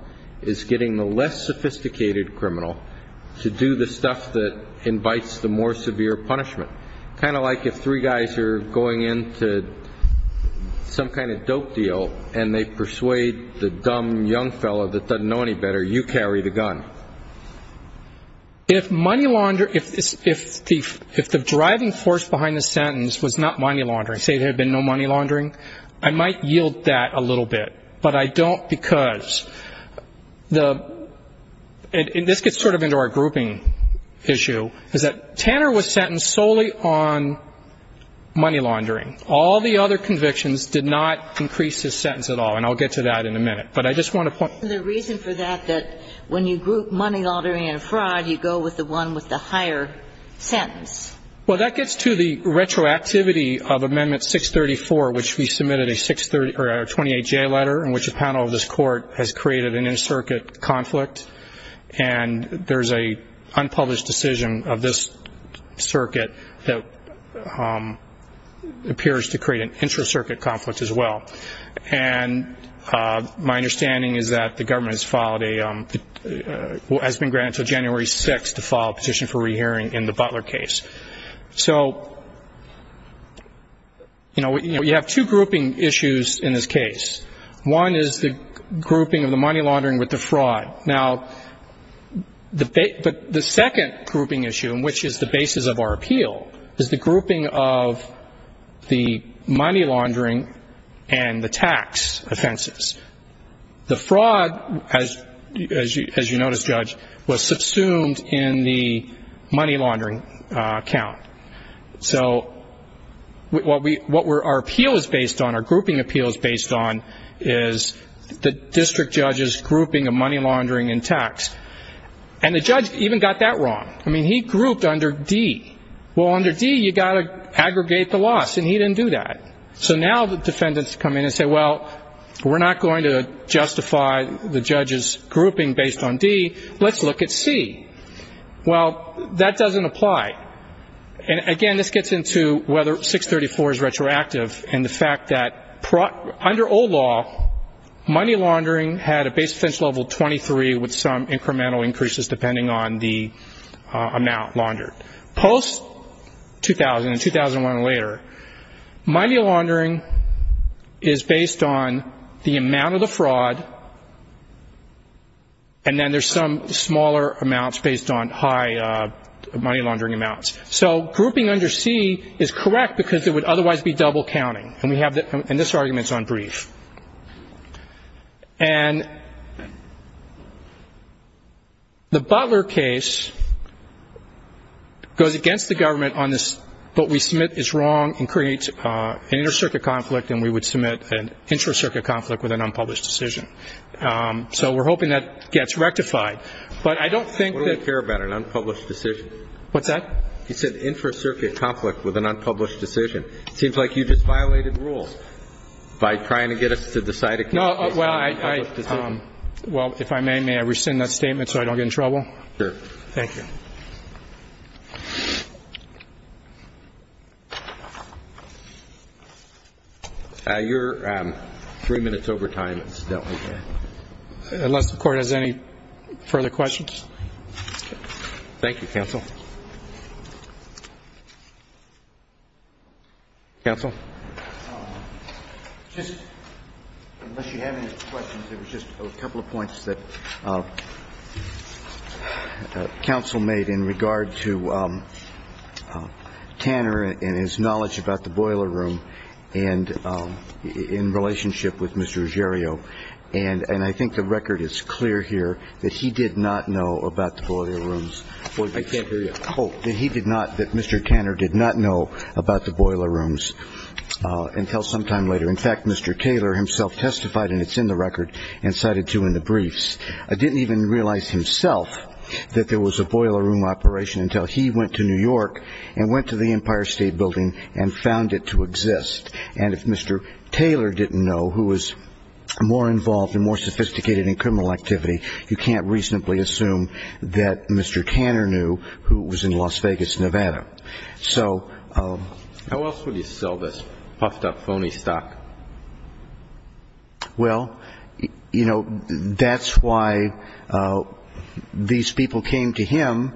is getting the less sophisticated criminal to do the stuff that invites the more severe punishment, kind of like if three guys are going into some kind of dope deal and they persuade the dumb young fellow that doesn't know any better, you carry the gun. If money laundering ---- if the driving force behind the sentence was not money laundering, say there had been no money laundering, I might yield that a little bit. But I don't because the ---- and this gets sort of into our grouping issue, is that Tanner was sentenced solely on money laundering. All the other convictions did not increase his sentence at all. And I'll get to that in a minute. But I just want to point ---- The reason for that that when you group money laundering and fraud, you go with the one with the higher sentence. Well, that gets to the retroactivity of Amendment 634, which we submitted a 630 or a 28-J letter in which the panel of this Court has created an in-circuit conflict. And there's an unpublished decision of this circuit that appears to create an intra-circuit conflict as well. And my understanding is that the government has filed a ---- has been granted until January 6th to file a petition for rehearing in the Butler case. So, you know, you have two grouping issues in this case. One is the grouping of the money laundering with the fraud. Now, the second grouping issue, which is the basis of our appeal, is the grouping of the money laundering and the tax offenses. The fraud, as you notice, Judge, was subsumed in the money laundering count. So what our appeal is based on, our grouping appeal is based on, is the district judge's grouping of money laundering and tax. And the judge even got that wrong. I mean, he grouped under D. Well, under D, you've got to aggregate the loss, and he didn't do that. So now the defendants come in and say, well, we're not going to justify the judge's grouping based on D. Let's look at C. Well, that doesn't apply. And, again, this gets into whether 634 is retroactive and the fact that under old law, money laundering had a base potential level of 23 with some incremental increases depending on the amount laundered. Post-2000 and 2001 and later, money laundering is based on the amount of the fraud, and then there's some smaller amounts based on high money laundering amounts. So grouping under C is correct because it would otherwise be double counting. And this argument is on brief. And the Butler case goes against the government on this, what we submit is wrong and creates an inter-circuit conflict, and we would submit an intra-circuit conflict with an unpublished decision. So we're hoping that gets rectified. But I don't think that ---- What do I care about an unpublished decision? What's that? You said intra-circuit conflict with an unpublished decision. It seems like you just violated rules by trying to get us to decide a case on an unpublished decision. Well, if I may, may I rescind that statement so I don't get in trouble? Sure. Thank you. You're three minutes over time, incidentally. Unless the Court has any further questions. Thank you, counsel. Counsel? Just, unless you have any questions, there was just a couple of points that counsel made in regard to Tanner and his knowledge about the boiler room and in relationship with Mr. Ruggiero. And I think the record is clear here that he did not know about the boiler rooms. I can't hear you. Oh, that he did not, that Mr. Tanner did not know about the boiler rooms until sometime later. In fact, Mr. Taylor himself testified, and it's in the record and cited too in the briefs, didn't even realize himself that there was a boiler room operation until he went to New York and went to the Empire State Building and found it to exist. And if Mr. Taylor didn't know, who was more involved and more sophisticated in criminal activity, you can't reasonably assume that Mr. Tanner knew, who was in Las Vegas, Nevada. How else would he sell this puffed up phony stock? Well, you know, that's why these people came to him.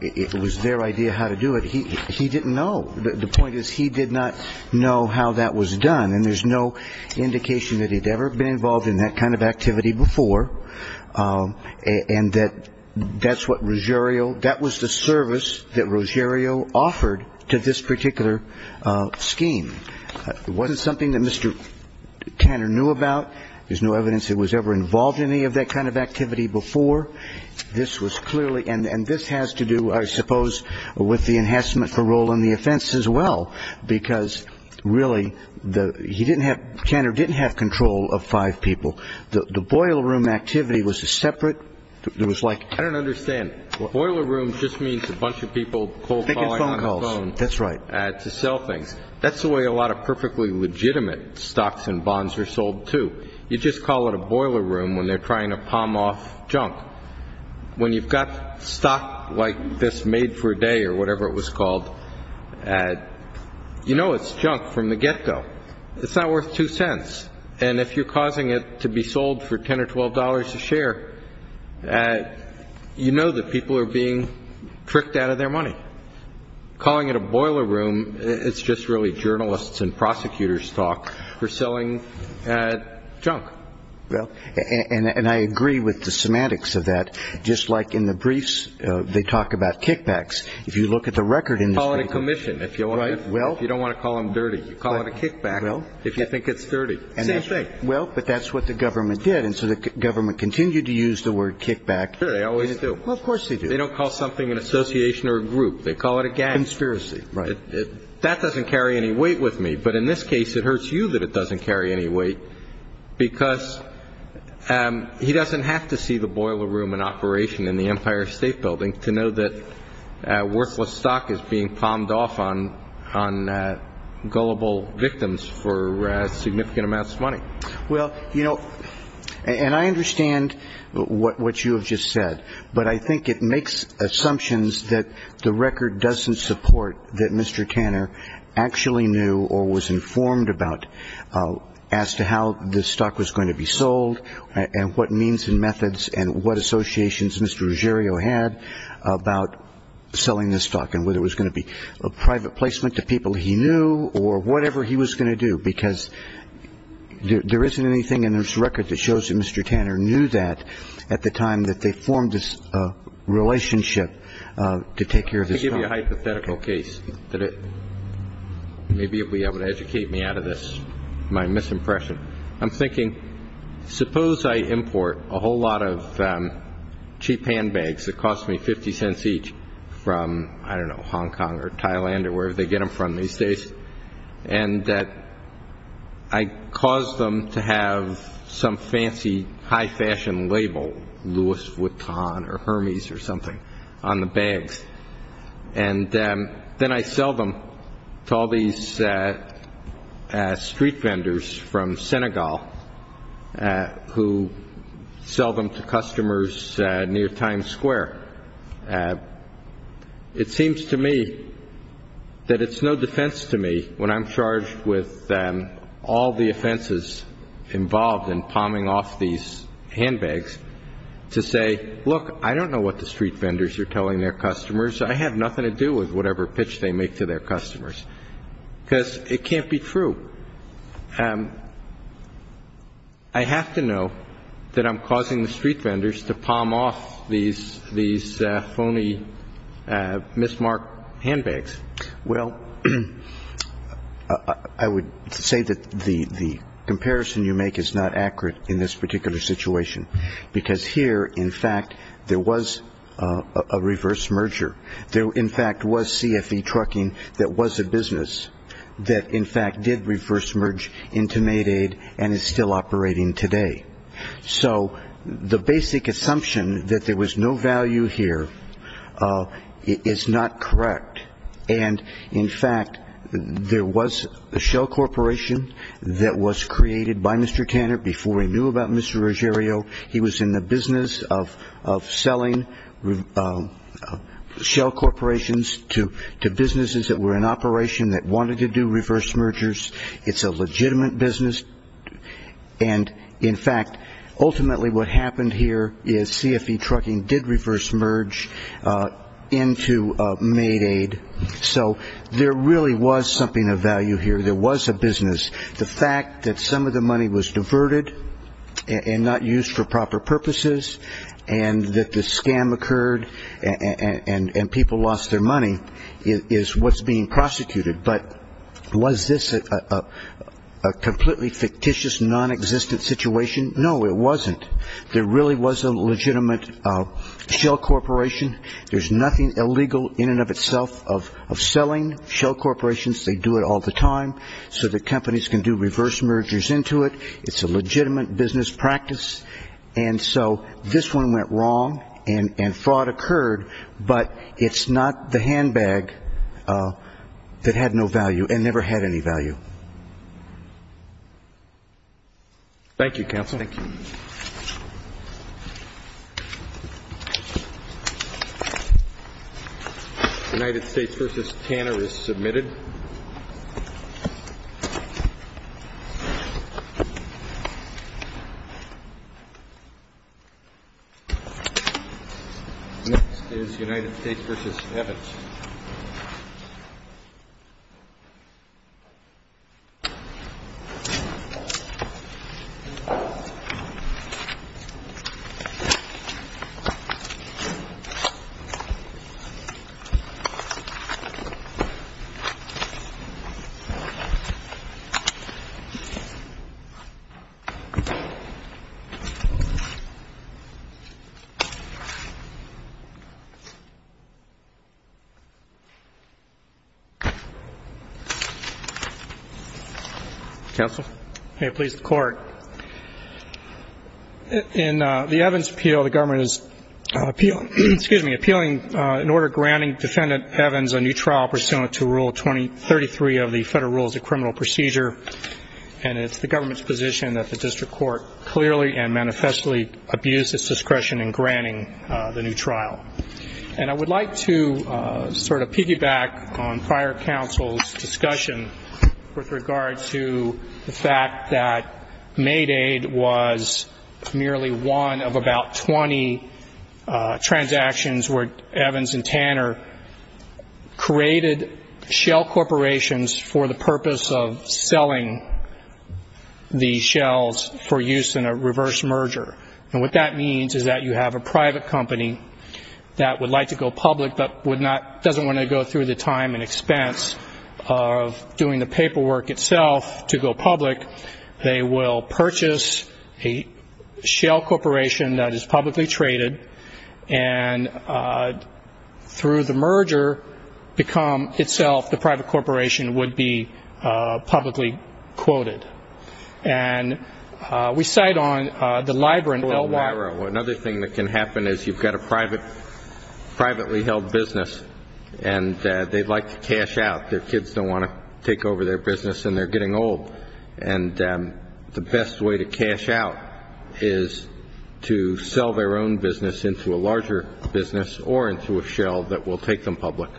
It was their idea how to do it. He didn't know. The point is he did not know how that was done. And there's no indication that he'd ever been involved in that kind of activity before and that that's what Ruggiero, that was the service that Ruggiero offered to this particular scheme. It wasn't something that Mr. Tanner knew about. There's no evidence he was ever involved in any of that kind of activity before. And this has to do, I suppose, with the enhancement for role in the offense as well, because really Tanner didn't have control of five people. The boiler room activity was separate. I don't understand. Boiler room just means a bunch of people cold calling on the phone to sell things. That's the way a lot of perfectly legitimate stocks and bonds are sold, too. You just call it a boiler room when they're trying to palm off junk. When you've got stock like this made for a day or whatever it was called, you know it's junk from the get-go. It's not worth two cents. And if you're causing it to be sold for $10 or $12 a share, you know that people are being tricked out of their money. Calling it a boiler room, it's just really journalists and prosecutors' talk. We're selling junk. Well, and I agree with the semantics of that. Just like in the briefs, they talk about kickbacks. If you look at the record in this brief. Call it a commission if you don't want to call them dirty. Call it a kickback if you think it's dirty. Same thing. Well, but that's what the government did, and so the government continued to use the word kickback. Sure, they always do. Well, of course they do. They don't call something an association or a group. They call it a gang. Conspiracy, right. That doesn't carry any weight with me. But in this case, it hurts you that it doesn't carry any weight because he doesn't have to see the boiler room in operation in the Empire State Building to know that worthless stock is being palmed off on gullible victims for significant amounts of money. Well, you know, and I understand what you have just said, but I think it makes assumptions that the record doesn't support that Mr. Tanner actually knew or was informed about as to how this stock was going to be sold and what means and methods and what associations Mr. Ruggiero had about selling this stock and whether it was going to be a private placement to people he knew or whatever he was going to do because there isn't anything in this record that shows that Mr. Tanner knew that at the time that they formed this relationship to take care of this stock. Let me give you a hypothetical case. Maybe you'll be able to educate me out of this, my misimpression. I'm thinking, suppose I import a whole lot of cheap handbags that cost me 50 cents each from, I don't know, Hong Kong or Thailand or wherever they get them from these days, and I cause them to have some fancy high-fashion label, Louis Vuitton or Hermes or something, on the bags, and then I sell them to all these street vendors from Senegal who sell them to customers near Times Square. It seems to me that it's no defense to me, when I'm charged with all the offenses involved in palming off these handbags, to say, look, I don't know what the street vendors are telling their customers. I have nothing to do with whatever pitch they make to their customers because it can't be true. I have to know that I'm causing the street vendors to palm off these phony, mismarked handbags. Well, I would say that the comparison you make is not accurate in this particular situation because here, in fact, there was a reverse merger. There, in fact, was CFE Trucking that was a business that, in fact, did reverse merge into Maidaid and is still operating today. So the basic assumption that there was no value here is not correct, and, in fact, there was a shell corporation that was created by Mr. Tanner before he knew about Mr. Ruggiero. He was in the business of selling shell corporations to businesses that were in operation that wanted to do reverse mergers. It's a legitimate business, and, in fact, ultimately what happened here is CFE Trucking did reverse merge into Maidaid. So there really was something of value here. There was a business. The fact that some of the money was diverted and not used for proper purposes and that the scam occurred and people lost their money is what's being prosecuted. But was this a completely fictitious, nonexistent situation? No, it wasn't. There really was a legitimate shell corporation. There's nothing illegal in and of itself of selling shell corporations. They do it all the time so that companies can do reverse mergers into it. It's a legitimate business practice. And so this one went wrong and fraud occurred, but it's not the handbag that had no value and never had any value. Thank you, counsel. Thank you. Thank you. United States v. Tanner is submitted. Next is United States v. Evans. Thank you. Counsel. Please, the Court. In the Evans appeal, the government is appealing in order of granting Defendant Evans a new trial pursuant to Rule 33 of the Federal Rules of Criminal Procedure, and it's the government's position that the district court clearly and manifestly abuses discretion in granting the new trial. And I would like to sort of piggyback on prior counsel's discussion with regard to the fact that shell corporations for the purpose of selling these shells for use in a reverse merger. And what that means is that you have a private company that would like to go public but doesn't want to go through the time and expense of doing the paperwork itself to go public. They will purchase a shell corporation that is publicly traded and through the merger become itself the private corporation would be publicly quoted. And we cite on the Libra and LY. Another thing that can happen is you've got a privately held business and they'd like to cash out. Their kids don't want to take over their business and they're getting old. And the best way to cash out is to sell their own business into a larger business or into a shell that will take them public.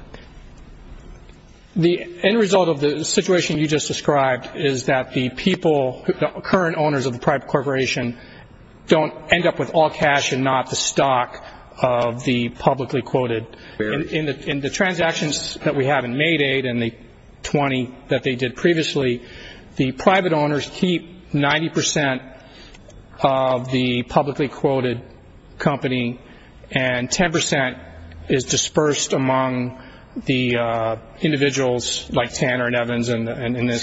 The end result of the situation you just described is that the people, the current owners of the private corporation don't end up with all cash and not the stock of the publicly quoted. In the transactions that we have in Mayday and the 20 that they did previously, the private owners keep 90 percent of the publicly quoted company and 10 percent is dispersed among the individuals like Tanner and Evans in this case.